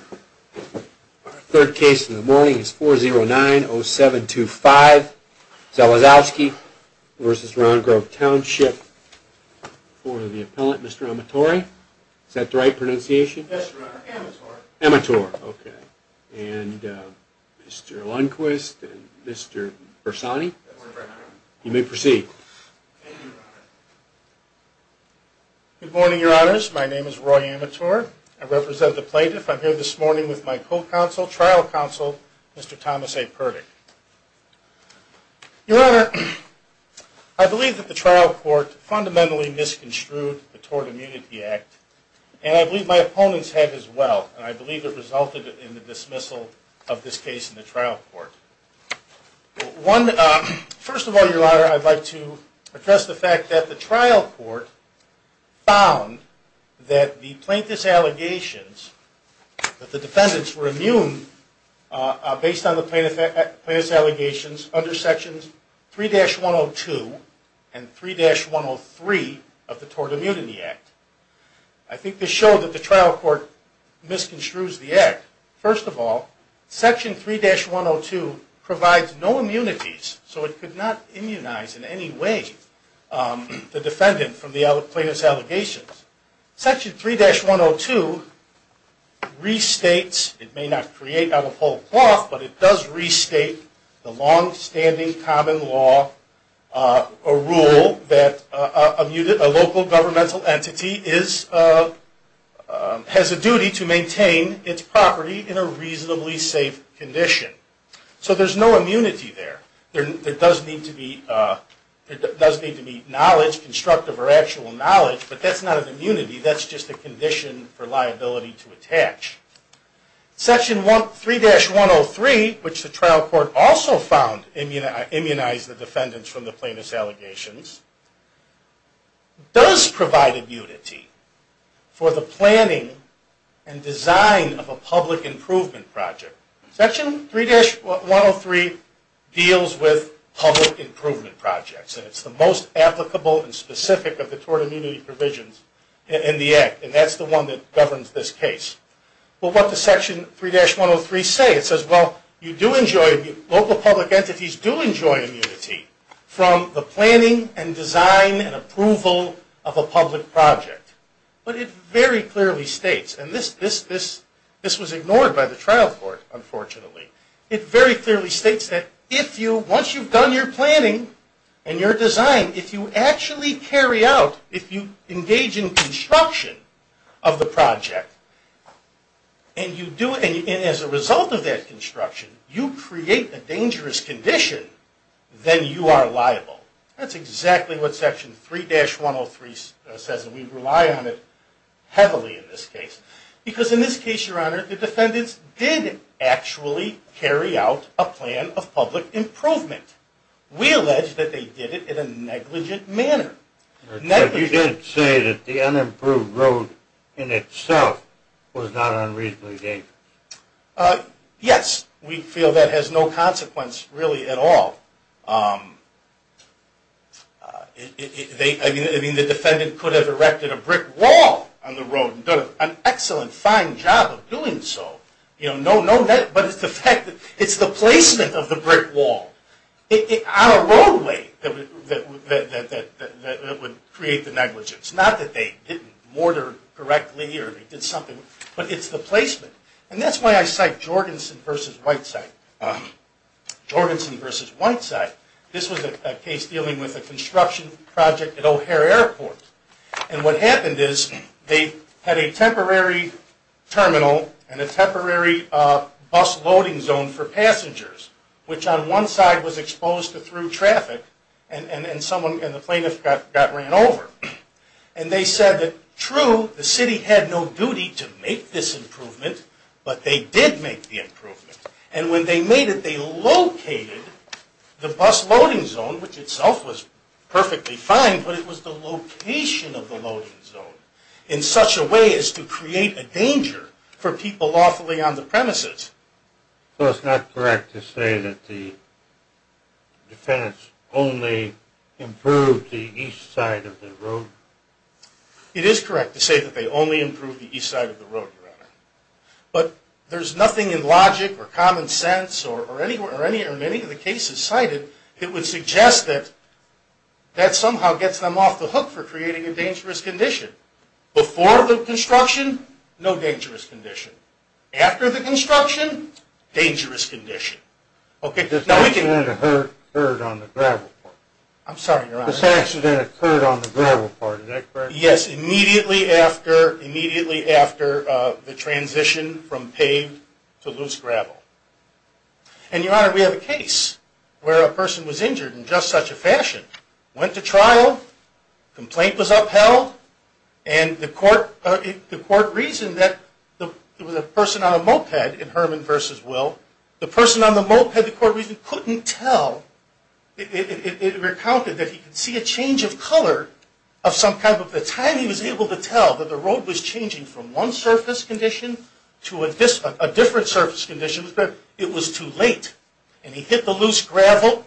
Our third case in the morning is 4090725 Zalazowski v. Round Grove Township for the appellant, Mr. Amatori. Is that the right pronunciation? Yes, your honor. Amator. Amator. Okay. And Mr. Lundquist and Mr. Bersani. You may proceed. Thank you, your honor. Good morning, your honors. My name is Roy Amator. I represent the court this morning with my co-counsel, trial counsel, Mr. Thomas A. Purdick. Your honor, I believe that the trial court fundamentally misconstrued the Tort Immunity Act and I believe my opponents had as well and I believe it resulted in the dismissal of this case in the trial court. First of all, your honor, I'd like to address the fact that the trial court found that the plaintiff's allegations, that the defendants were immune based on the plaintiff's allegations under sections 3-102 and 3-103 of the Tort Immunity Act. I think this showed that the trial court misconstrues the act. First of all, section 3-102 provides no immunities so it could not immunize in any way the defendant from the plaintiff's allegations. Section 3-102 restates it may not create out of whole cloth but it does restate the long-standing common law, a rule that a local governmental entity has a duty to maintain its property in a reasonably safe condition. So there's no immunity there. There does need to be knowledge, constructive or actual knowledge, but that's not an immunity, that's just a condition for liability to attach. Section 3-103 which the trial court also found immunized the defendants from the plaintiff's allegations does provide immunity for the planning and design of a public improvement project. Section 3-103 deals with public improvement projects and it's the most applicable and specific of the tort immunity provisions in the act and that's the one that governs this case. But what does section 3-103 say? It says, well, you do enjoy, local public entities do enjoy immunity from the planning and design and approval of a public project. But it very clearly states, and this was ignored by the trial court unfortunately, it very clearly states that if you, once you've done your planning and your design, if you actually carry out if you engage in construction of the project and as a result of that construction you create a dangerous condition, then you are liable. That's exactly what section 3-103 says and we rely on it heavily in this case. Because in this case, Your Honor, the defendants did actually carry out a plan of public improvement. We allege that they did it in a negligent manner. You did say that the unimproved road in itself was not unreasonably dangerous. Yes, we feel that has no consequence really at all. I mean, the defendant could have erected a brick wall on the road and done an excellent, fine job of doing so. But it's the placement of the brick wall on a roadway that would create the negligence. Not that they didn't mortar correctly or they did something, but it's the placement. And that's why I cite Jorgensen v. Whiteside. This was a case dealing with a construction project at O'Hare Airport. And what happened is they had a temporary terminal and a temporary bus loading zone for passengers, which on one side was exposed to through traffic and the plaintiff got ran over. And they said that true, the city had no duty to make this improvement, but they did make the improvement. And when they made it, they located the bus loading zone, which itself was perfectly fine, but it was the location of the loading zone in such a way as to create a danger for people lawfully on the premises. So it's not correct to say that the defendants only improved the east side of the road? It is correct to say that they only improved the east side of the road, Your Honor. But there's nothing in logic or common sense or any or many of the cases cited that would suggest that that somehow gets them off the hook for a dangerous condition. Before the construction, no dangerous condition. After the construction, dangerous condition. This accident occurred on the gravel part? I'm sorry, Your Honor. This accident occurred on the gravel part, is that correct? Yes, immediately after the transition from paved to loose gravel. And Your Honor, we have a case where a person was injured in just such a fashion, went to hell, and the court reasoned that it was a person on a moped in Herman v. Will. The person on the moped, the court reasoned, couldn't tell. It recounted that he could see a change of color of some kind, but by the time he was able to tell that the road was changing from one surface condition to a different surface condition, it was too late. And he hit the loose gravel,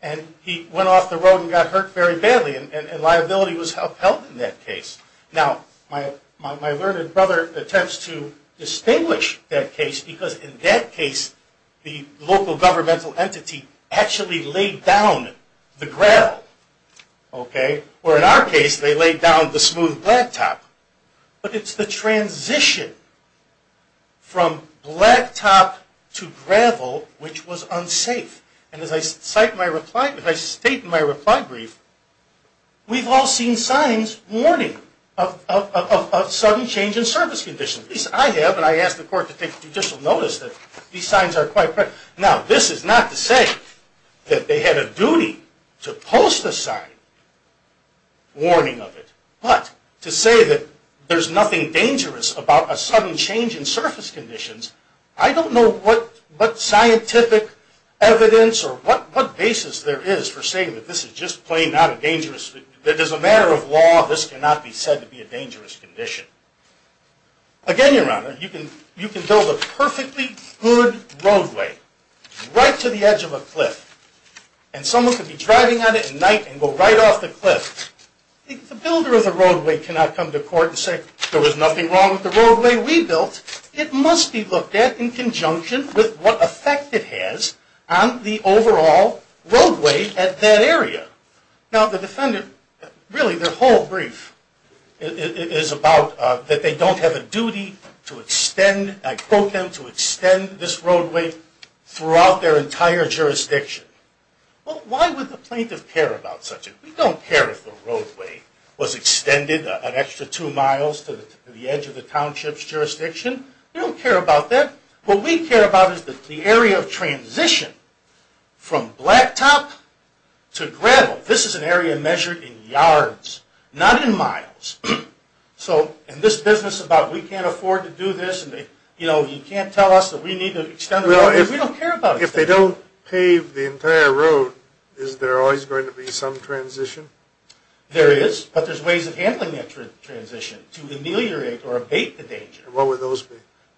and he went off the road and got hurt very badly and liability was upheld in that case. Now, my learned brother attempts to distinguish that case because in that case, the local governmental entity actually laid down the gravel. Okay? Or in our case, they laid down the smooth blacktop. But it's the transition from blacktop to gravel which was unsafe. And as I state in my reply brief, we've all seen signs warning of sudden change in surface conditions. At least I have, and I asked the court to take judicial notice that these signs are quite present. Now, this is not to say that they had a duty to post a sign warning of it. But to say that there's nothing dangerous about a sudden change in surface conditions, I don't know what scientific evidence or what basis there is for saying that this is just plain not a dangerous, that as a matter of law, this cannot be said to be a dangerous condition. Again, Your Honor, you can build a perfectly good roadway right to the edge of a cliff, and someone could be driving on it at night and go right off the cliff. If the builder of the roadway cannot come to court and say, there was nothing wrong with the roadway we built, it must be looked at in conjunction with what effect it has on the overall roadway at that area. Now, the defendant, really their whole brief is about that they don't have a duty to extend, I quote them, to extend this roadway throughout their entire jurisdiction. Well, why would the plaintiff care about such a thing? We don't care if the roadway was extended We don't care about that. What we care about is the area of transition from blacktop to gravel. This is an area measured in yards, not in miles. So, in this business about we can't afford to do this, you can't tell us that we need to extend the roadway, we don't care about it. If they don't pave the entire road, is there always going to be some transition? There is, but there's ways of handling that transition to ameliorate or abate the danger. What would those be?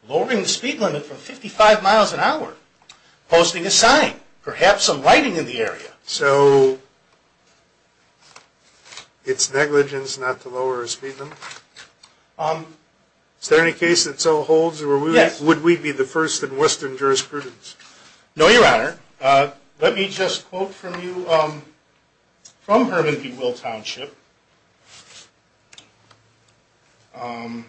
Lowering the speed limit from 55 miles an hour, posting a sign, perhaps some writing in the area. So, it's negligence not to lower a speed limit? Is there any case that so holds or would we be the first in western jurisprudence? No, your honor. Let me just quote from you from Herman B. Will Township Um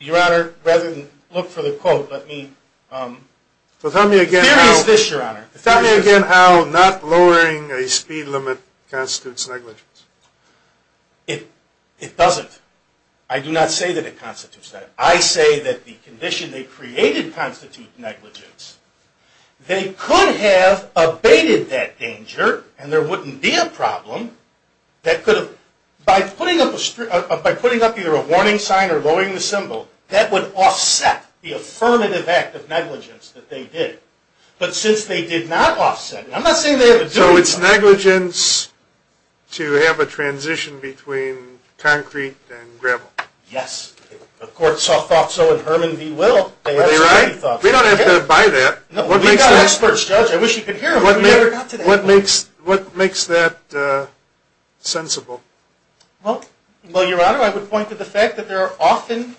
Your honor, rather than look for the quote, let me The theory is this, your honor. Tell me again how not lowering a speed limit constitutes negligence. It doesn't. I do not say that it constitutes that. I say that the condition they created constitutes negligence. They could have abated that danger and there wouldn't be a problem that could have by putting up either a warning sign or lowering the symbol that would offset the affirmative act of negligence that they did. But since they did not offset it, I'm not saying they have to do it. So, it's negligence to have a transition between concrete and gravel. Yes. The court saw thought so in Herman B. Will Are they right? We don't have to buy that. We've got experts, Judge. I wish you could hear them. What makes that sensible? Well, your honor, I would point to the fact that there are often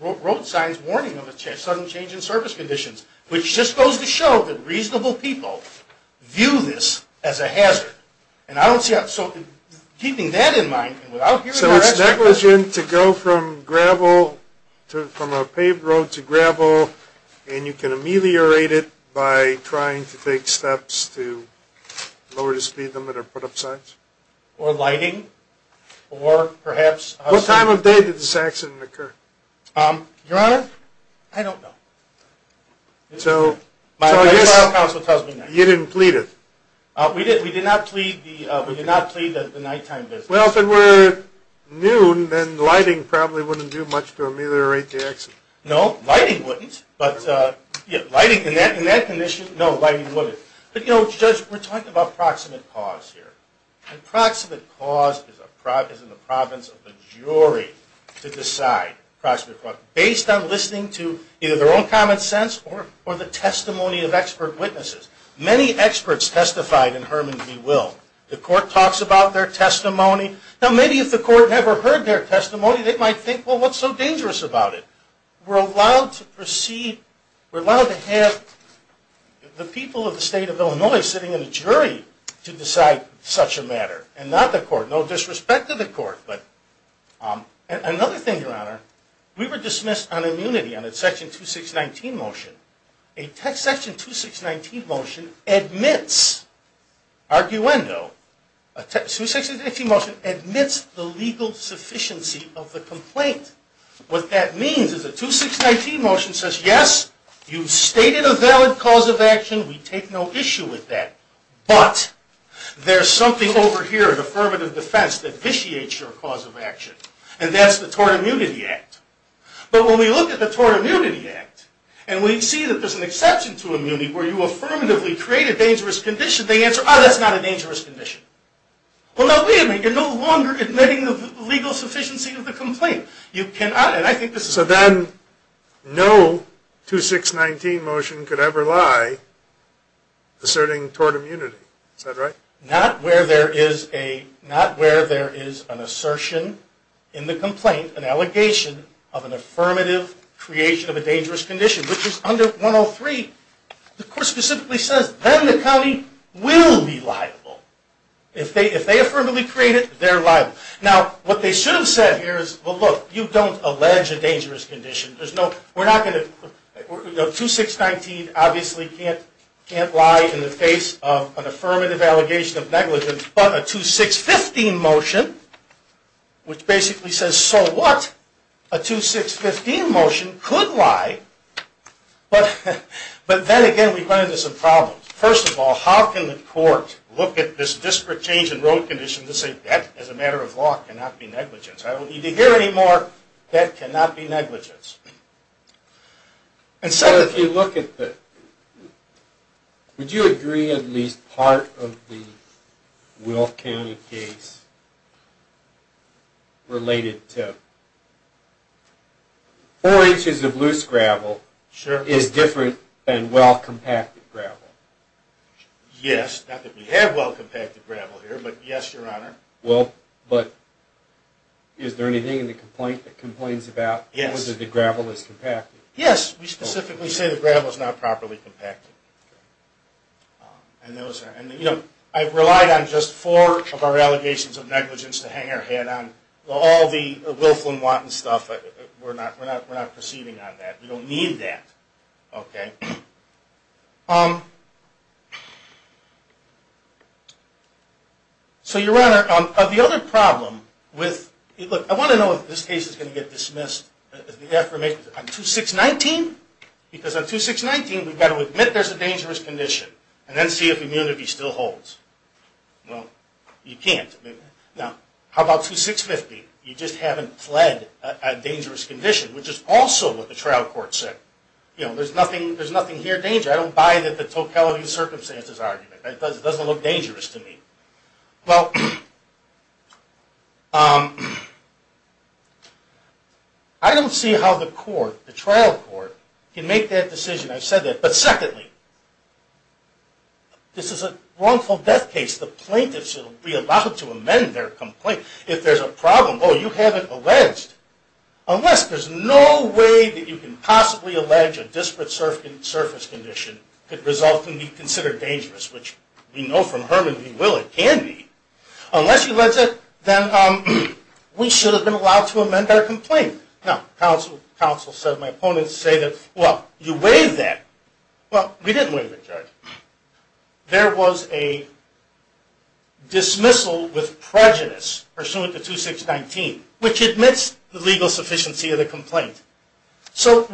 road signs warning of a sudden change in service conditions, which just goes to show that reasonable people view this as a hazard. And I don't see... keeping that in mind... So, it's negligence to go from gravel to... from a paved road to gravel and you can ameliorate it by trying to take steps to lower the speed limit or put up signs? Or lighting? Or perhaps... What time of day did this accident occur? Your honor, I don't know. So... You didn't plead it? We did. We did not plead the nighttime visit. Well, if it were noon then lighting probably wouldn't do much to ameliorate the accident. No, lighting wouldn't. But lighting in that condition... No, lighting wouldn't. But, you know, Judge, we're talking about proximate cause here. And proximate cause is in the province of the jury to decide based on listening to either their own testimony of expert witnesses. Many experts testified in Herman v. Will. The court talks about their testimony. Now, maybe if the court never heard their testimony, they might think, well, what's so dangerous about it? We're allowed to proceed... We're allowed to have the people of the state of Illinois sitting in a jury to decide such a matter and not the court. No disrespect to the court, but... Another thing, your honor, we were dismissed on immunity on a Section 2619 motion. A Section 2619 motion admits arguendo, a Section 2619 motion admits the legal sufficiency of the complaint. What that means is a 2619 motion says, yes, you've stated a valid cause of action. We take no issue with that. But, there's something over here in affirmative defense that vitiates your cause of action, and that's the Tort Immunity Act. But when we look at the Tort Immunity Act, and we see that there's an exception to immunity where you affirmatively create a dangerous condition, they answer, ah, that's not a dangerous condition. Well, now, wait a minute. You're no longer admitting the legal sufficiency of the complaint. You cannot, and I think this is... So then, no 2619 motion could ever lie asserting tort immunity. Is that right? Not where there is a not where there is an assertion in the complaint, an affirmative creation of a dangerous condition, which is under 103. The Court specifically says, then the county will be liable. If they affirmatively create it, they're liable. Now, what they should have said here is, well, look, you don't allege a dangerous condition. There's no... We're not going to... 2619 obviously can't lie in the face of an affirmative allegation of negligence, but a 2615 motion, which basically says, so what? A 2615 motion could lie, but then again, we run into some problems. First of all, how can the Court look at this disparate change in road conditions and say, that, as a matter of law, cannot be negligence? I don't need to hear any more that cannot be negligence. And second... So if you look at the... Would you agree at least part of the Will County case related to four inches of loose gravel is different than well-compacted gravel? Yes. Not that we have well-compacted gravel here, but yes, Your Honor. Is there anything in the complaint that complains about whether the gravel is compacted? Yes. We specifically say the gravel is not properly compacted. I've relied on just four of our allegations of negligence to hang our head on all the willful and wanton stuff. We're not proceeding on that. We don't need that. So, Your Honor, the other problem with... Look, I want to know if this case is going to get dismissed as the affirmative... On 2619? Because on 2619, we've got to admit there's a dangerous condition and then see if immunity still holds. Well, you can't. Now, how about 2650? You just haven't fled a dangerous condition, which is also what the trial court said. You know, there's nothing here dangerous. I don't buy the Tocqueville circumstances argument. It doesn't look dangerous to me. I don't see how the court, the trial court, can make that decision. I've said that. But secondly, this is a wrongful death case. The plaintiff should be allowed to amend their complaint. If there's a problem, oh, you have it alleged. Unless there's no way that you can possibly allege a disparate surface condition could result in being considered dangerous, which we know from Herman we will. It can be. Unless you allege it, then we should have been allowed to amend our complaint. Now, counsel said, my opponents say that, well, you waived that. Well, we didn't waive it, Judge. There was a dismissal with prejudice pursuant to 2619, which admits the legal sufficiency of the complaint. So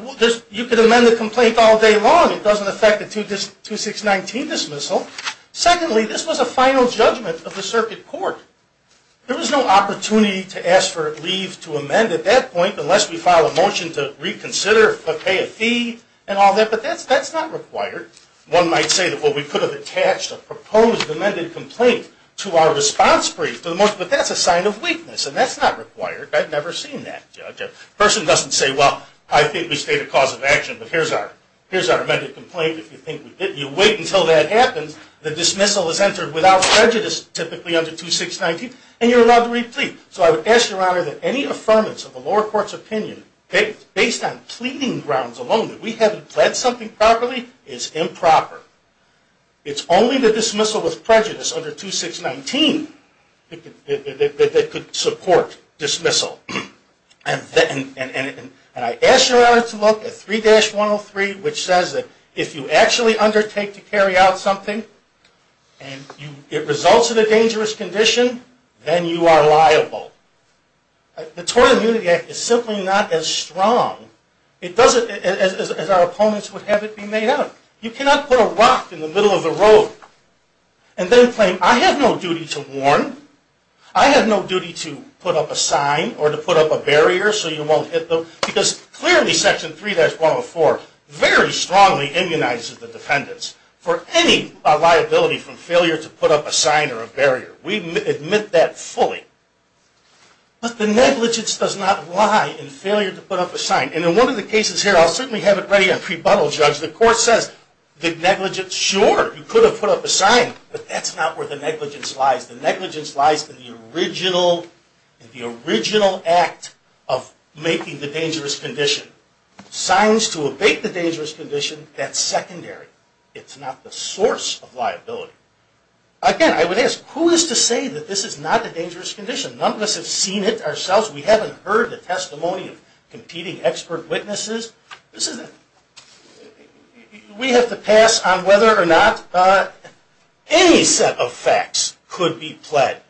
you could amend the complaint all day long. It doesn't affect the 2619 dismissal. Secondly, this was a final judgment of the circuit court. There was no opportunity to ask for leave to amend at that point unless we file a motion to amend. But that's not required. One might say, well, we could have attached a proposed amended complaint to our response brief, but that's a sign of weakness. And that's not required. I've never seen that, Judge. A person doesn't say, well, I think we state a cause of action, but here's our amended complaint. If you think we didn't, you wait until that happens. The dismissal is entered without prejudice, typically under 2619, and you're allowed to replete. So I would ask, Your Honor, that any affirmance of the lower court's opinion based on pleading grounds alone that we haven't pledged something properly is improper. It's only the dismissal with prejudice under 2619 that could support dismissal. And I ask, Your Honor, to look at 3-103, which says that if you actually undertake to carry out something, and it results in a dangerous condition, then you are liable. The Tort Immunity Act is simply not as strong as our opponents would have it be made of. You cannot put a rock in the middle of the road and then claim, I have no duty to warn, I have no duty to put up a sign or to put up a barrier so you won't hit them, because clearly Section 3-104 very strongly immunizes the defendants for any liability from failure to put up a sign or a barrier. We admit that fully. But the negligence does not lie in failure to put up a sign. And in one of the cases here, I'll certainly have it ready on pre-buttol, Judge. The court says the negligence, sure, you could have put up a sign, but that's not where the negligence lies. The negligence lies in the original act of making the dangerous condition. Signs to abate the dangerous condition, that's secondary. It's not the source of liability. Again, I would ask, who is to say that this is not a dangerous condition? None of us have seen it ourselves. We haven't heard the testimony of competing expert witnesses. We have to pass on whether or not any set of facts could be pled.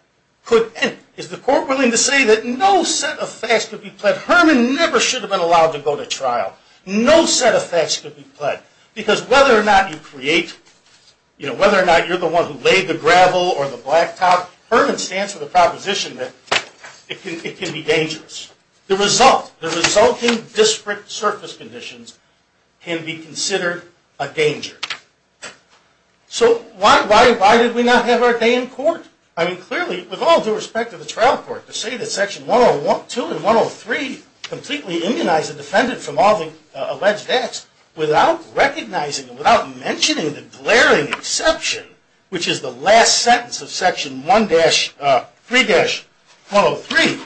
Is the court willing to say that no set of facts could be pled? Herman never should have been allowed to go to trial. No set of facts could be pled. Because whether or not you create, whether or not you're the one who laid the gravel or the blacktop, Herman stands for the proposition that it can be dangerous. The result, the resulting disparate surface conditions can be considered a danger. So why did we not have our day in court? I mean, clearly, with all due respect to the trial court, to say that Section 102 and 103 completely immunized the defendant from all the alleged acts without recognizing, without mentioning the glaring exception, which is the last sentence of Section 1-3-103.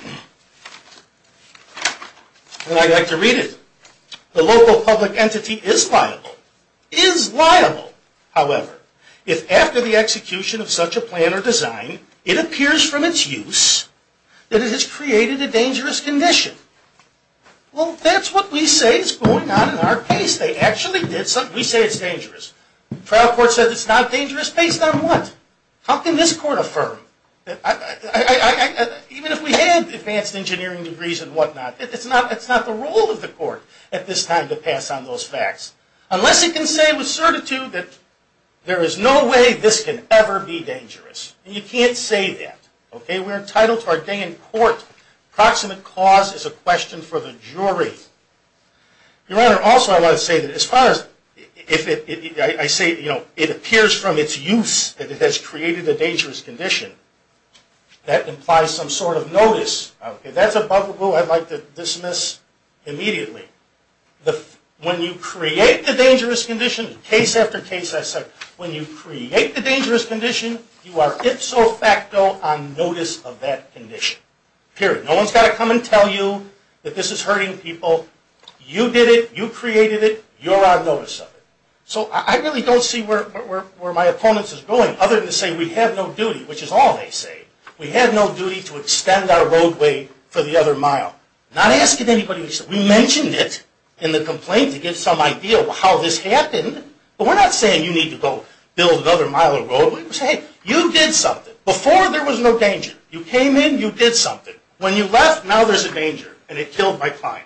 And I'd like to read it. The local public entity is liable. Is liable, however, if after the execution of such a plan or design, it appears from its use that it has created a dangerous condition. Well, that's what we say is going on in our case. They actually did something. We say it's dangerous. Trial court says it's not dangerous based on what? How can this court affirm? Even if we had advanced engineering degrees and whatnot, it's not the role of the court at this time to pass on those facts. Unless it can say with certitude that there is no way this can ever be dangerous. And you can't say that. Okay? We're entitled to our day in court. Proximate cause is a question for the jury. Your Honor, also I want to say that as far as I say it appears from its use that it has created a dangerous condition, that implies some sort of notice. If that's above the rule, I'd like to dismiss immediately. When you create the dangerous condition, case after case, when you create the dangerous condition, you are ipso facto on notice of that condition. Period. No one's got to come and tell you that this is hurting people. You did it. You created it. You're on notice of it. So I really don't see where my opponents is going other than to say we have no duty, which is all they say. We have no duty to extend our roadway for the other mile. Not asking anybody. We mentioned it in the complaint to get some idea of how this happened. But we're not saying you need to go build another mile of road. We're saying, hey, you did something. Before there was no danger. You came in. You did something. When you left, now there's a danger. And it killed my client.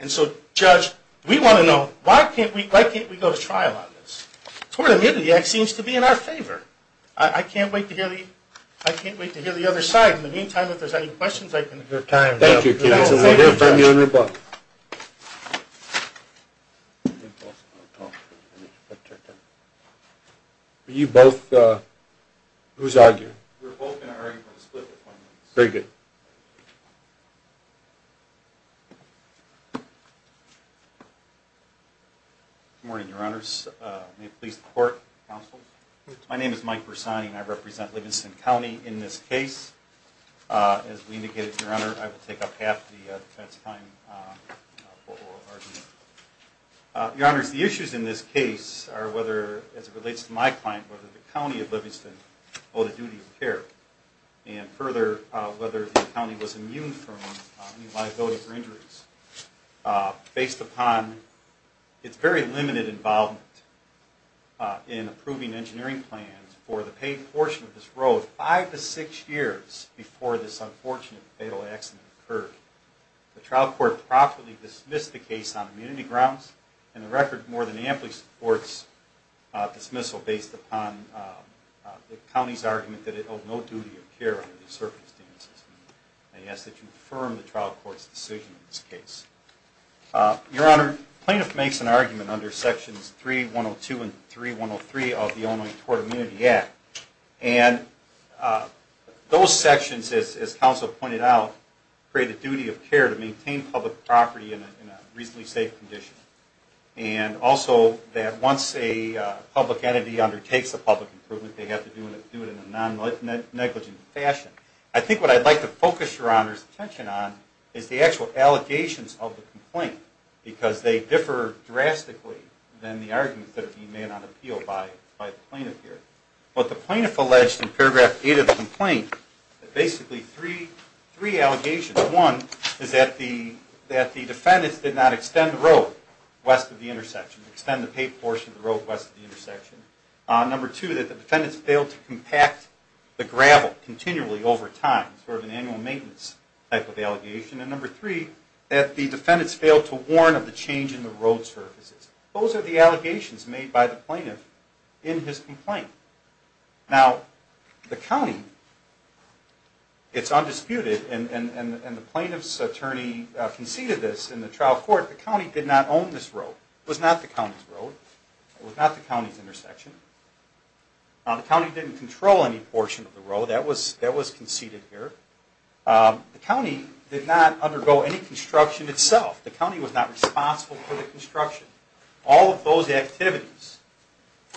And so, Judge, we want to know, why can't we go to trial on this? Tort Immunity Act seems to be in our favor. I can't wait to hear the other side. In the meantime, if there's any questions, I can Thank you. Are you both, who's arguing? We're both going to argue for the split of 20 minutes. Good morning, your honors. May it please the court, counsel. My name is Mike Persani and I represent Livingston County in this case. As we indicated, your honor, I will take up half the defense time for oral argument. Your honors, the issues in this case are whether, as it relates to my client, whether the county was immune from any liability for injuries, based upon its very limited involvement in approving engineering plans for the paid portion of this road five to six years before this unfortunate, fatal accident occurred. The trial court properly dismissed the case on immunity grounds, and the record more than amply supports dismissal based upon the county's argument that it held no duty of care under these circumstances. I ask that you confirm the trial court's decision in this case. Your honor, plaintiff makes an argument under sections 3.102 and 3.103 of the Online Tort Immunity Act, and those sections, as counsel pointed out, create a duty of care to maintain public property in a reasonably safe condition, and also that once a public improvement, they have to do it in a non-negligent fashion. I think what I'd like to focus your honor's attention on is the actual allegations of the complaint, because they differ drastically than the arguments that are being made on appeal by the plaintiff here. The plaintiff alleged in paragraph 8 of the complaint that basically three allegations. One is that the defendants did not extend the road west of the intersection, extend the paid portion of the road west of the intersection. Number two, that the defendants failed to compact the gravel continually over time, sort of an annual maintenance type of allegation. And number three, that the defendants failed to warn of the change in the road surfaces. Those are the allegations made by the plaintiff in his complaint. Now, the county it's undisputed, and the plaintiff's attorney conceded this in the trial court, the county did not own this road. It was not the county's road. It was not the county's intersection. Now, the county didn't control any portion of the road. That was conceded here. The county did not undergo any construction itself. The county was not responsible for the construction. All of those activities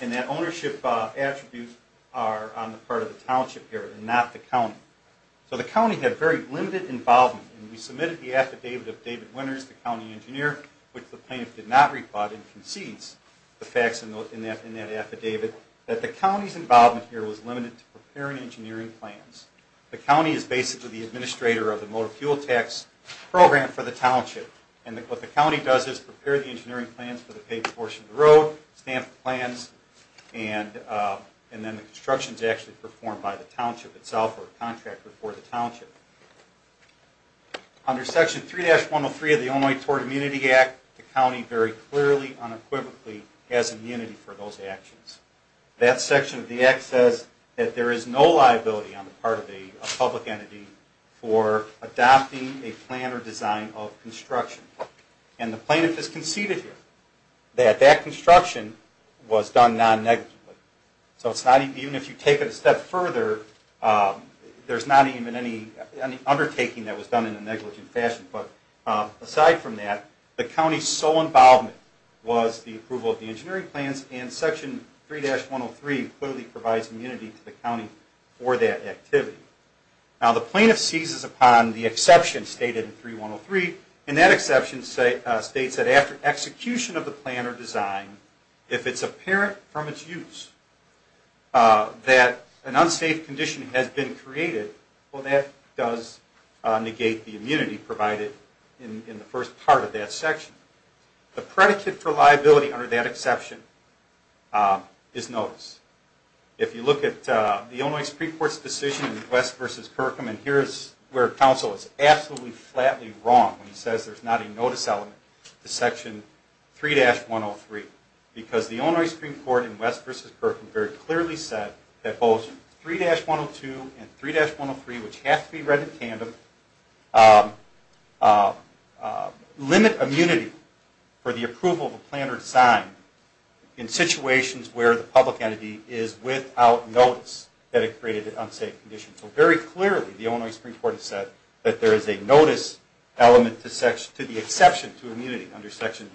and that ownership attribute are on the part of the township here and not the county. So the county had very limited involvement, and we submitted the affidavit of David Winters, the county repotting, concedes the facts in that affidavit, that the county's involvement here was limited to preparing engineering plans. The county is basically the administrator of the motor fuel tax program for the township. And what the county does is prepare the engineering plans for the paved portion of the road, stamp the plans, and then the construction is actually performed by the township itself or a contractor for the township. Under Section 3-103 of the Illinois Point Toward Immunity Act, the county very clearly, unequivocally has immunity for those actions. That section of the act says that there is no liability on the part of a public entity for adopting a plan or design of construction. And the plaintiff has conceded here that that construction was done non-negatively. So even if you take it a step further, there's not even any undertaking that was done in a negligent fashion. But aside from that, the county's sole involvement was the approval of the engineering plans, and Section 3-103 clearly provides immunity to the county for that activity. Now the plaintiff seizes upon the exception stated in 3-103, and that exception states that after execution of the plan or design, if it's apparent from its use that an unsafe condition has been created, well that does negate the immunity provided in the first part of that section. The predicate for liability under that exception is notice. If you look at the Illinois Supreme Court's decision in West v. Kirkham, and here's where counsel is absolutely flatly wrong when he says there's not a notice element to Section 3-103, because the Illinois Supreme Court in West v. Kirkham very clearly said that both 3-102 and 3-103, which have to be read in tandem, limit immunity for the approval of a plan or design in situations where the public entity is without notice that it created an unsafe condition. So very clearly the Illinois Supreme Court has said that there is a notice element to the exception to immunity under Section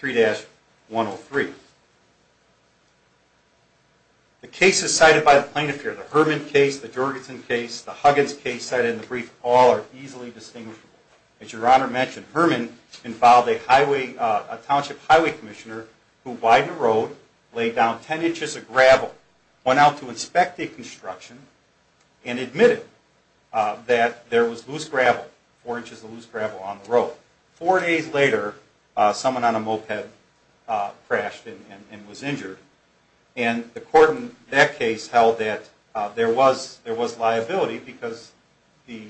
3-103. The cases cited by the plaintiff here, the Herman case, the Jorgensen case, the Huggins case cited in the brief, all are easily distinguishable. As your Honor mentioned, Herman involved a township highway commissioner who widened a road, laid down 10 inches of gravel, went out to inspect the construction, and admitted that there was loose gravel, 4 inches of loose gravel on the road. Four days later, someone on a moped crashed and was injured, and the court in that case held that there was liability because there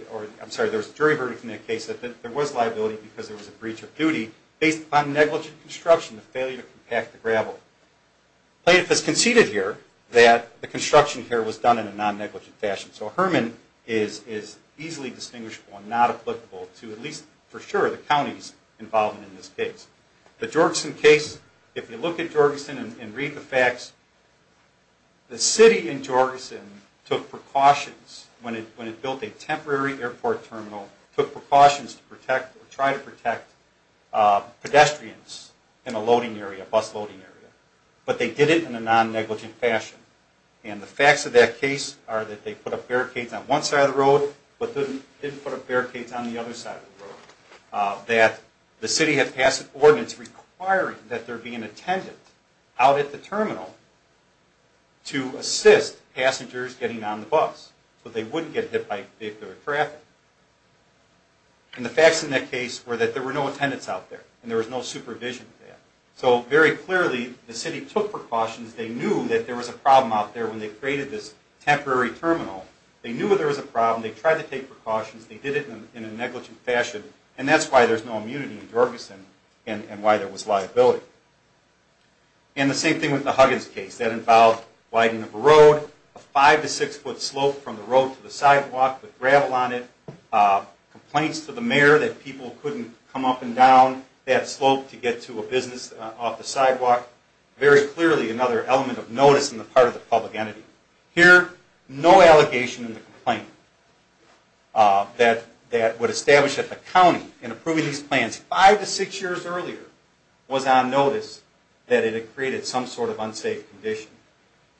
was a jury verdict in that case that there was liability because there was a breach of duty based upon negligent construction, the failure to compact the gravel. The plaintiff has conceded here that the construction here was done in a non-negligent fashion. So Herman is easily distinguishable and not applicable to, at least for sure, the counties involved in this case. The Jorgensen case, if you look at Jorgensen and read the facts, the city in Jorgensen took precautions when it built a temporary airport terminal, took precautions to protect, or try to protect pedestrians in a loading area, a bus loading area. But they did it in a non-negligent fashion. And the facts of that case are that they put up barricades on one side of the road, but didn't put up barricades on the other side of the road. That the city had passed an ordinance requiring that there be an attendant out at the terminal to assist passengers getting on the bus so they wouldn't get hit by vehicular traffic. And the facts in that case were that there were no attendants out there and there was no supervision of that. So very clearly the city took precautions. They knew that there was a problem out there when they created this temporary terminal. They knew there was a problem. They tried to take precautions. They did it in a negligent fashion. And that's why there's no immunity in Jorgensen and why there was liability. And the same thing with the Huggins case. That involved widening of a road, a five to six foot slope from the road to the sidewalk with gravel on it, complaints to the mayor that people couldn't come up and down that slope to get to a business off the sidewalk. Very clearly another element of notice on the part of the public entity. Here, no allegation in the complaint that would establish that the county in approving these plans five to six years earlier was on notice that it had created some sort of unsafe condition.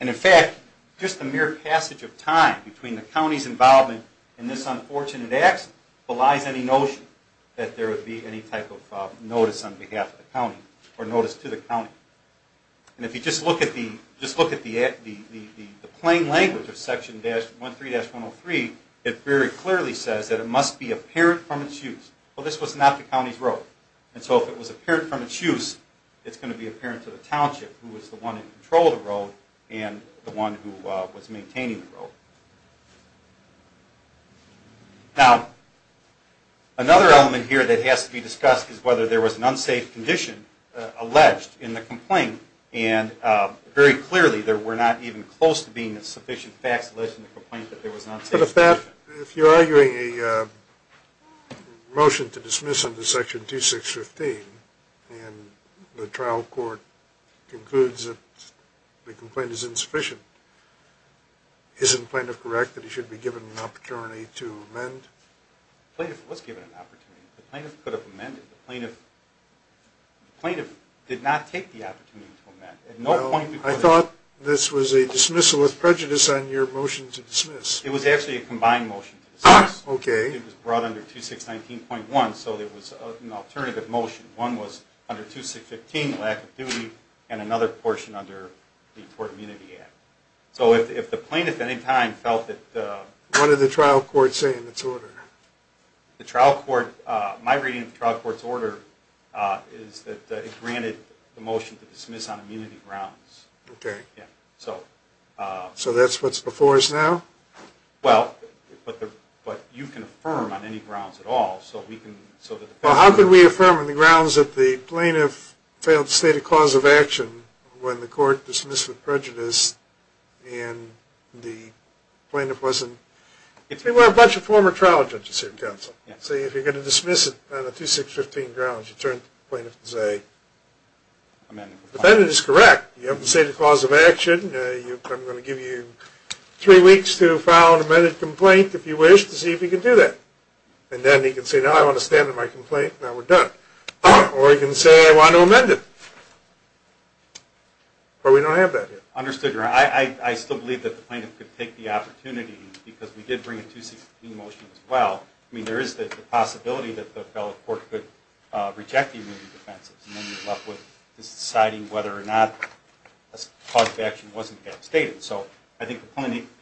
And in fact just the mere passage of time between the county's involvement in this unfortunate accident belies any notion that there would be any type of notice on behalf of the county or notice to the county. And if you just look at the plain language of section 13-103, it very clearly says that it must be apparent from its use. Well, this was not the county's road. And so if it was apparent from its use, it's going to be apparent to the township who was the one in control of the road and the one who was maintaining the road. Now, another element here that has to be discussed is whether there was an unsafe condition alleged in the complaint. And very clearly there were not even close to being sufficient facts alleged in the complaint that there was an unsafe condition. Now, the motion to dismiss under section 2615 in the trial court concludes that the complaint is insufficient. Isn't the plaintiff correct that he should be given an opportunity to amend? The plaintiff was given an opportunity. The plaintiff could have amended. The plaintiff did not take the opportunity to amend. I thought this was a dismissal with prejudice on your motion to dismiss. It was actually a combined motion to dismiss. It was brought under 2619.1, so there was an alternative motion. One was under 2615, lack of duty, and another portion under the Court Immunity Act. So if the plaintiff at any time felt that What did the trial court say in its order? My reading of the trial court's order is that it granted the motion to dismiss on immunity grounds. So that's what's before us now? Well, but you can affirm on any grounds at all. How can we affirm on the grounds that the plaintiff failed to state a cause of action when the court dismissed with prejudice and the plaintiff wasn't... If we were a bunch of former trial judges here in counsel, say if you're going to dismiss it on a 2615 grounds, you turn to the plaintiff and say, the defendant is correct. You haven't stated a cause of action. I'm going to give you three weeks to file an amended complaint, if you wish, to see if you can do that. And then he can say, no, I want to stand on my complaint. Now we're done. Or he can say, I want to amend it. Or we don't have that here. I still believe that the plaintiff could take the opportunity because we did bring a 2615 motion as well. I mean, there is the possibility that the fellow court could reject the immunity defense and then you're left with deciding whether or not a cause of action wasn't yet stated. So I think the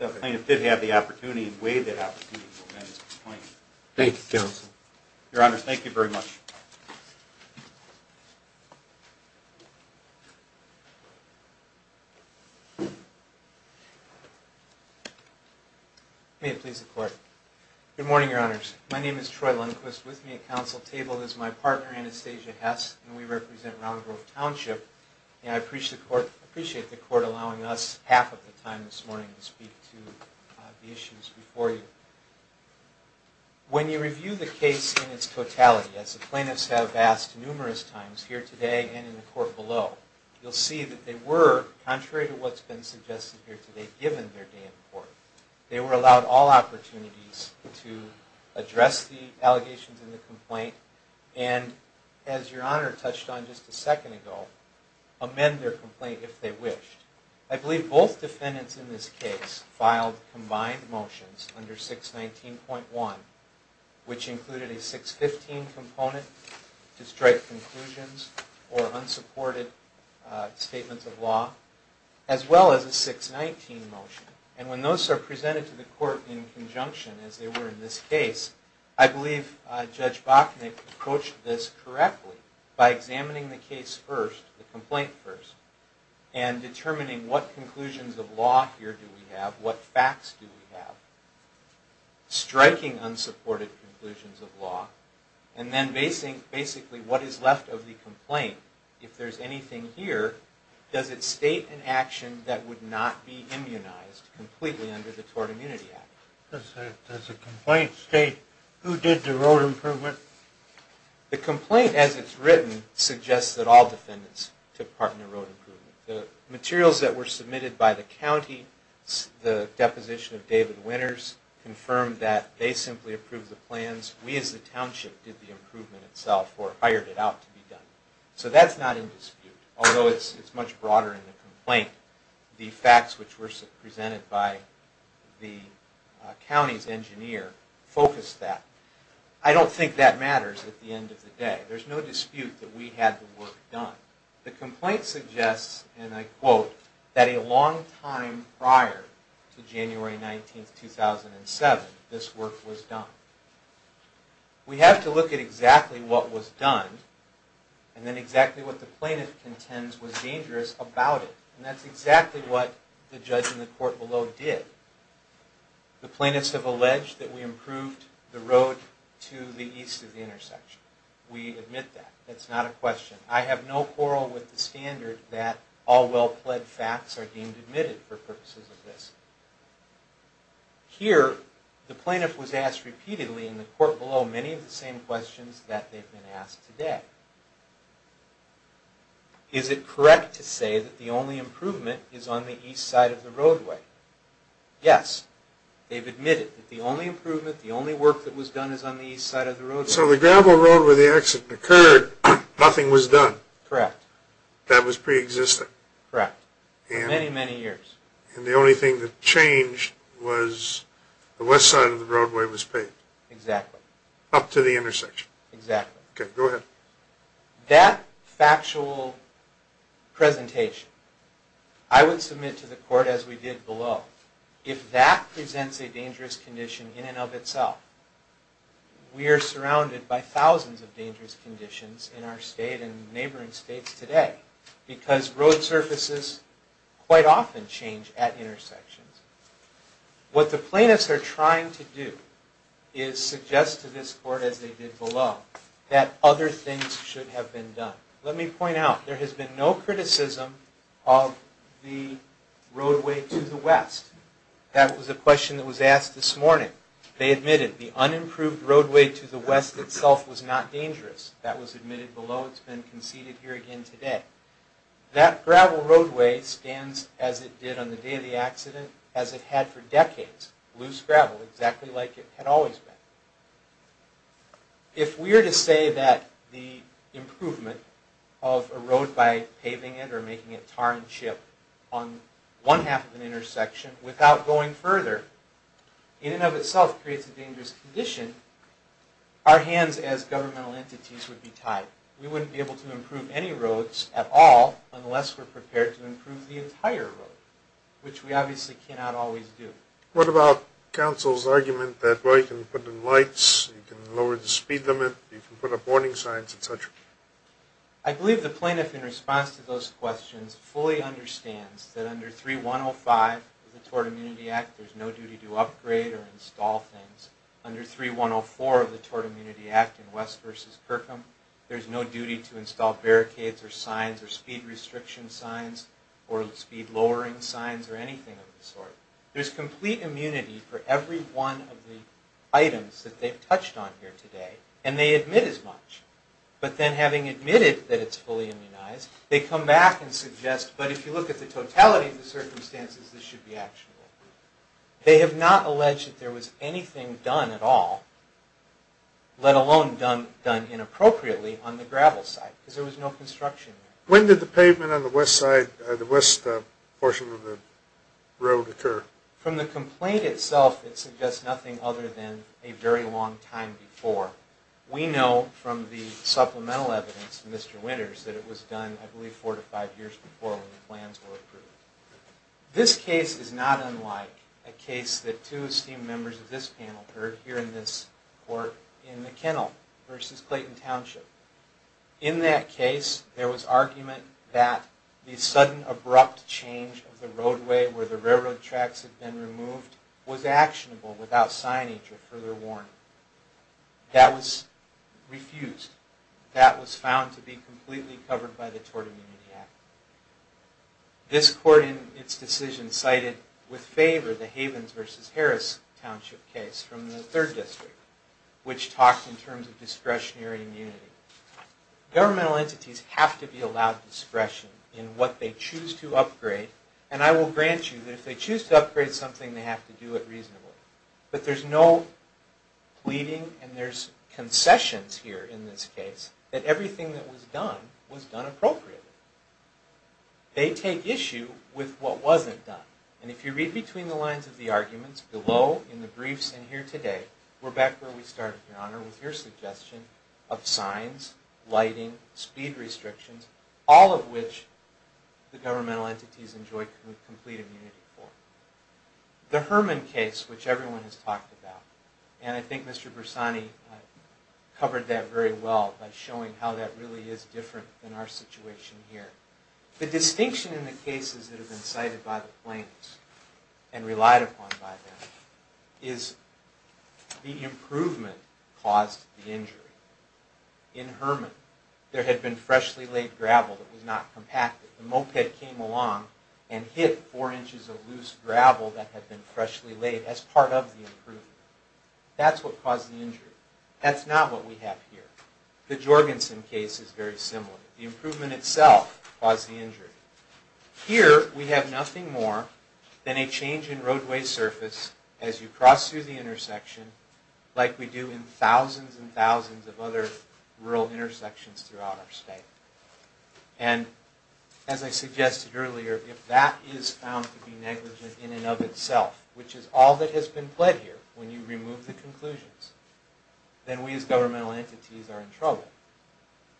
plaintiff did have the opportunity and waived that opportunity to amend his complaint. Your Honor, thank you very much. May it please the Court. Good morning, Your Honors. My name is Troy Lundquist. With me at counsel table is my partner, Anastasia Hess, and we represent Round Grove Township. And I appreciate the Court allowing us half of the time this morning to speak to the issues before you. When you review the case in its totality, as the plaintiff says, and as plaintiffs have asked numerous times here today and in the Court below, you'll see that they were, contrary to what's been suggested here today, given their day in court. They were allowed all opportunities to address the allegations in the complaint and, as Your Honor touched on just a second ago, amend their complaint if they wished. I believe both defendants in this case filed combined motions under 619.1, which is to strike conclusions or unsupported statements of law, as well as a 619 motion. And when those are presented to the Court in conjunction as they were in this case, I believe Judge Bachnick approached this correctly by examining the case first, the complaint first, and determining what conclusions of law here do we have, what facts do we have, striking unsupported conclusions of basically what is left of the complaint. If there's anything here, does it state an action that would not be immunized completely under the Tort Immunity Act? Does the complaint state who did the road improvement? The complaint, as it's written, suggests that all defendants took part in the road improvement. The materials that were submitted by the county, the deposition of David Winters confirmed that they simply approved the plans, we as a law firm hired it out to be done. So that's not in dispute, although it's much broader in the complaint. The facts which were presented by the county's engineer focused that. I don't think that matters at the end of the day. There's no dispute that we had the work done. The complaint suggests, and I quote, that a long time prior to January 19, 2007, this work was done. We have to look at exactly what was done and then exactly what the plaintiff contends was dangerous about it. And that's exactly what the judge in the court below did. The plaintiffs have alleged that we improved the road to the east of the intersection. We admit that. That's not a question. I have no quarrel with the standard that all well-pled facts are deemed admitted for purposes of this. Here, the plaintiff was asked repeatedly in the court below many of the same questions that they've been asked today. Is it correct to say that the only improvement is on the east side of the roadway? Yes. They've admitted that the only improvement, the only work that was done is on the east side of the roadway. So the gravel road where the accident occurred, nothing was done. Correct. That was pre-existing. Correct. For many, many years. And the only thing that changed was the west side of the roadway was paved. Exactly. Up to the intersection. Exactly. Okay, go ahead. That factual presentation, I would submit to the court as we did below, if that presents a dangerous condition in and of itself, we are surrounded by thousands of dangerous conditions in our state and neighboring states today because road surfaces quite often change at intersections. What the plaintiffs are trying to do is suggest to this court, as they did below, that other things should have been done. Let me point out, there has been no criticism of the roadway to the west. That was a question that was asked this morning. They admitted the unimproved roadway to the west itself was not dangerous. That was admitted below. It's been conceded here again today. That gravel roadway stands as it did on the day of the accident as it had for decades. Loose gravel, exactly like it had always been. If we were to say that the improvement of a road by paving it or making it tar and chip on one half of an intersection without going further, in and of itself creates a dangerous condition, our hands as governmental wouldn't be able to improve any roads at all unless we're prepared to improve the entire road, which we obviously cannot always do. What about counsel's argument that, well, you can put in lights, you can lower the speed limit, you can put up warning signs, etc.? I believe the plaintiff in response to those questions fully understands that under 3105 of the Tort Immunity Act, there's no duty to upgrade or install things. Under 3104 of the Tort Immunity Act in West Virginia versus Kirkham, there's no duty to install barricades or signs or speed restriction signs or speed lowering signs or anything of the sort. There's complete immunity for every one of the items that they've touched on here today, and they admit as much. But then having admitted that it's fully immunized, they come back and suggest, but if you look at the totality of the circumstances, this should be actionable. They have not alleged that there was anything done at all, let alone done inappropriately, on the gravel side, because there was no construction there. When did the pavement on the west portion of the road occur? From the complaint itself, it suggests nothing other than a very long time before. We know from the supplemental evidence from Mr. Winters that it was done, I believe, four to five years before when the plans were approved. This case is not unlike a case that two esteemed members of this panel heard here in this court in McKinnell versus Clayton Township. In that case, there was argument that the sudden abrupt change of the roadway where the railroad tracks had been removed was actionable without signage or further warning. That was refused. That was found to be completely covered by the Tortimony Act. This court in its decision cited with favor the Havens versus Harris Township case from the third district, which talks in terms of discretionary immunity. Governmental entities have to be allowed discretion in what they choose to upgrade, and I will grant you that if they choose to upgrade something, they have to do it reasonably. But there's no pleading and there's concessions here in this case that everything that was done was done appropriately. They take issue with what was done appropriately. We're back where we started, Your Honor, with your suggestion of signs, lighting, speed restrictions, all of which the governmental entities enjoy complete immunity for. The Herman case, which everyone has talked about, and I think Mr. Bersani covered that very well by showing how that really is different than our situation here. The distinction in the cases that have been cited by the claims and relied upon by them is the improvement caused the injury. In Herman, there had been freshly laid gravel that was not compacted. The moped came along and hit four inches of loose gravel that had been freshly laid as part of the improvement. That's what caused the injury. That's not what we have here. The Jorgensen case is very similar. The improvement itself caused the injury. Here, we have nothing more than a change in roadway surface as you cross through the intersection like we do in thousands and thousands of other rural intersections throughout our state. As I suggested earlier, if that is found to be negligent in and of itself, which is all that has been pled here when you remove the conclusions, then we as governmental entities are in trouble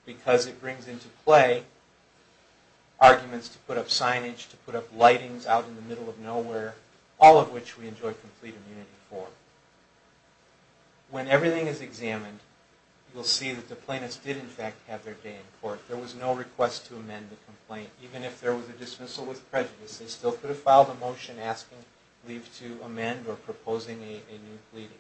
because it brings into play arguments to put up signage, to put up lightings out in the middle of nowhere, all of which we enjoy complete immunity for. When everything is examined, you'll see that the plaintiffs did in fact have their day in court. There was no request to amend the complaint even if there was a dismissal with prejudice. They still could have filed a motion asking leave to amend or proposing a new pleading.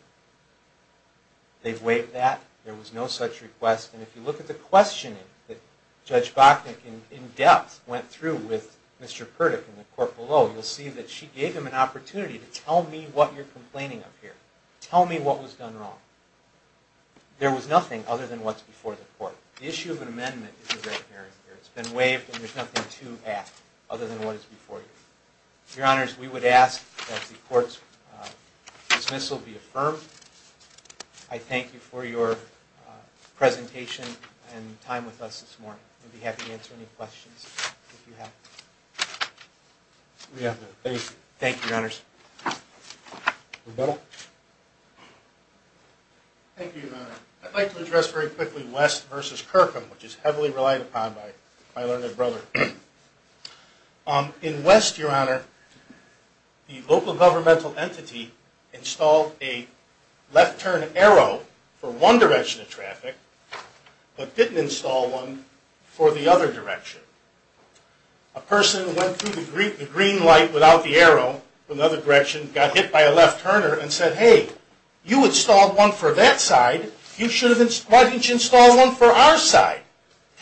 They've waived that. There was no such request. And if you look at the case that I in-depth went through with Mr. Kerdick in the court below, you'll see that she gave him an opportunity to tell me what you're complaining of here. Tell me what was done wrong. There was nothing other than what's before the court. The issue of an amendment is a red herring here. It's been waived and there's nothing to ask other than what is before you. Your Honors, we would ask that the court's dismissal be affirmed. I thank you for your presentation and time with us this morning. I'd be happy to answer any questions. Thank you, Your Honors. Thank you, Your Honor. I'd like to address very quickly West v. Kirkland, which is heavily relied upon by my learned brother. In West, Your Honor, the local governmental entity installed a left turn arrow for one direction of traffic but didn't install one for the other direction. A person who went through the green light without the arrow from the other direction got hit by a left turner and said, hey, you installed one for that side. Why didn't you install one for our side?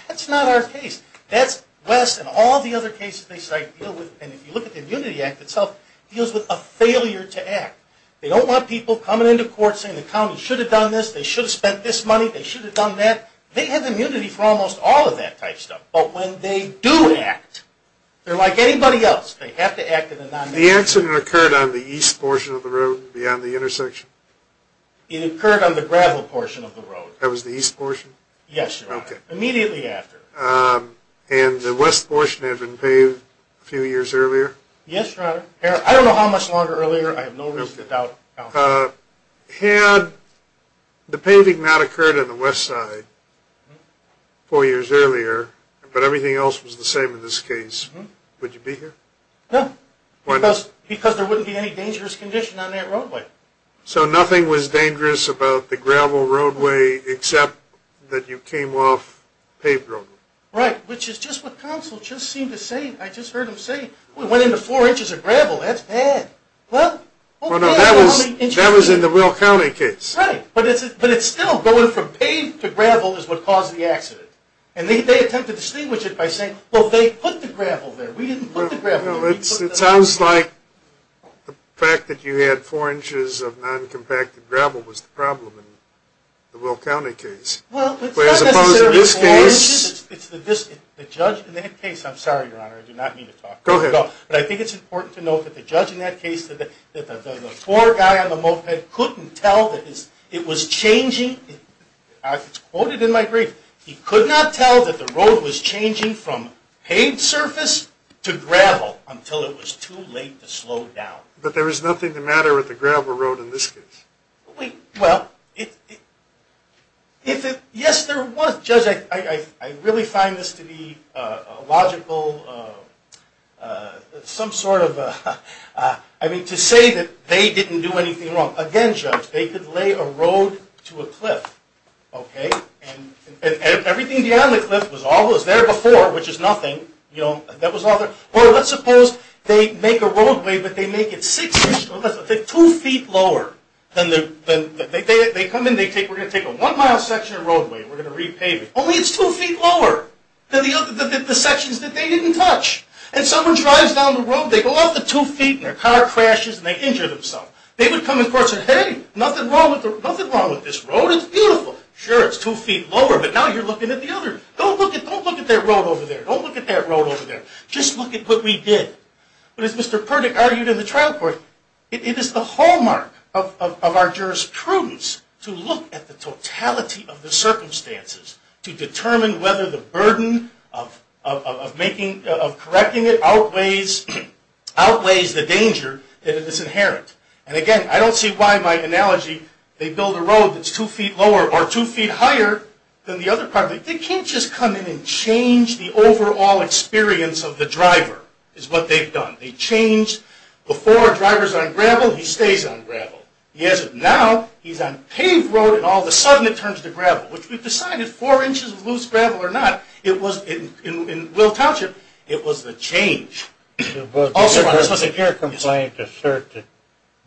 That's not our case. That's West and all the other cases they cite. And if you look at the Immunity Act itself, it deals with a failure to act. They don't want people coming into court saying the county should have done this, they should have spent this money, they should have done that. They have immunity for almost all of that type stuff. But when they do act, they're like anybody else. They have to act in a non-negative way. The accident occurred on the east portion of the road beyond the intersection? It occurred on the gravel portion of the road. That was the east portion? Yes, Your Honor. Immediately after. And the west portion had been paved a few years earlier? Yes, Your Honor. I don't know how much longer earlier. I have no reason to doubt. Had the paving not occurred on the west side four years earlier, but everything else was the same in this case, would you be here? No. Why not? Because there wouldn't be any dangerous condition on that roadway. So nothing was dangerous about the gravel roadway except that you came off paved roadway? Right, which is just what counsel just seemed to say. I just heard him say, we went into four inches of gravel, that's bad. Well, that was in the Will County case. Right, but it's still going from paved to gravel is what caused the accident. And they attempt to distinguish it by saying, well, they put the gravel there. We didn't put the gravel there. It sounds like the fact that you had four inches of non-compacted gravel was the problem in the Will County case. Well, it's not necessarily four inches, it's the judge in that case. I'm sorry, Your Honor, I do not mean to talk. Go ahead. But I think it's important to note that the judge in that case, that the tour guy on the moped couldn't tell that it was changing I quoted in my brief, he could not tell that the road was changing from paved surface to gravel until it was too late to slow down. But there was nothing the matter with the gravel road in this case. Well, if it, yes there was. Judge, I really find this to be a logical some sort of to say that they didn't do anything wrong. Again, Judge, they could lay a road to a cliff, okay, and everything beyond the cliff was always there before, which is nothing. Well, let's suppose they make a roadway, but they make it six feet two feet lower than the, they come in, we're going to take a one mile section of roadway, we're going to repave it. Only it's two feet lower than the sections that they didn't touch. And someone drives down the road, they go off the two feet and their car crashes and they injure themselves. They would come in court and say, hey, nothing wrong with this road, it's beautiful. Sure, it's two feet lower, but now you're looking at the other. Don't look at that road over there. Don't look at that road over there. Just look at what we did. But as Mr. Perdick argued in the trial court, it is the hallmark of our jurisprudence to look at the totality of the circumstances to determine whether the burden of making, of correcting it outweighs the danger that is inherent. And again, I don't see why my analogy, they build a road that's two feet lower or two feet higher than the other car, but they can't just come in and change the overall experience of the driver is what they've done. They change, before a driver's on gravel, he stays on gravel. He hasn't. Now, he's on paved road and all of a sudden, whether it's four inches of loose gravel or not, in Will Township, it was the change. Both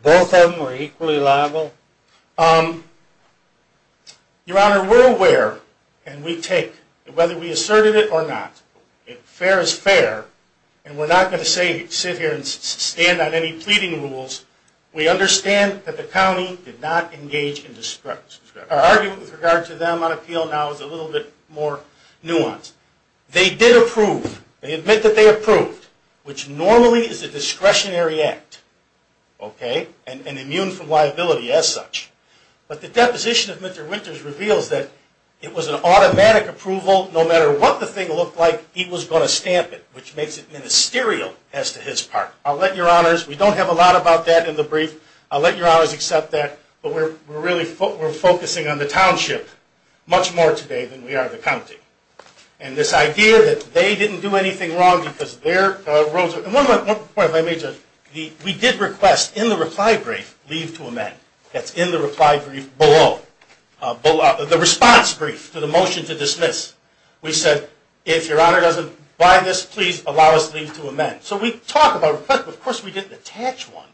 of them were equally liable? Your Honor, we're aware and we take whether we asserted it or not. Fair is fair and we're not going to sit here and stand on any pleading rules. We understand that the county did not engage in their argument with regard to them on appeal now is a little bit more nuanced. They did approve. They admit that they approved, which normally is a discretionary act, okay, and immune from liability as such. But the deposition of Mr. Winters reveals that it was an automatic approval. No matter what the thing looked like, he was going to stamp it, which makes it ministerial as to his part. I'll let your honors, we don't have a lot about that in the brief, I'll let your honors accept that, but we're really focusing on the township much more today than we are the county. And this idea that they didn't do anything wrong because their roads were, and one point if I may, Judge, we did request in the reply brief leave to amend. That's in the reply brief below. The response brief to the motion to dismiss. We said, if your honor doesn't buy this, please allow us leave to amend. So we talk about requests, but of course we didn't attach one.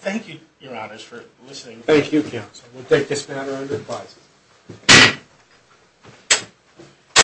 Thank you, your honors, for listening. Thank you, counsel. We'll take this matter under advisory.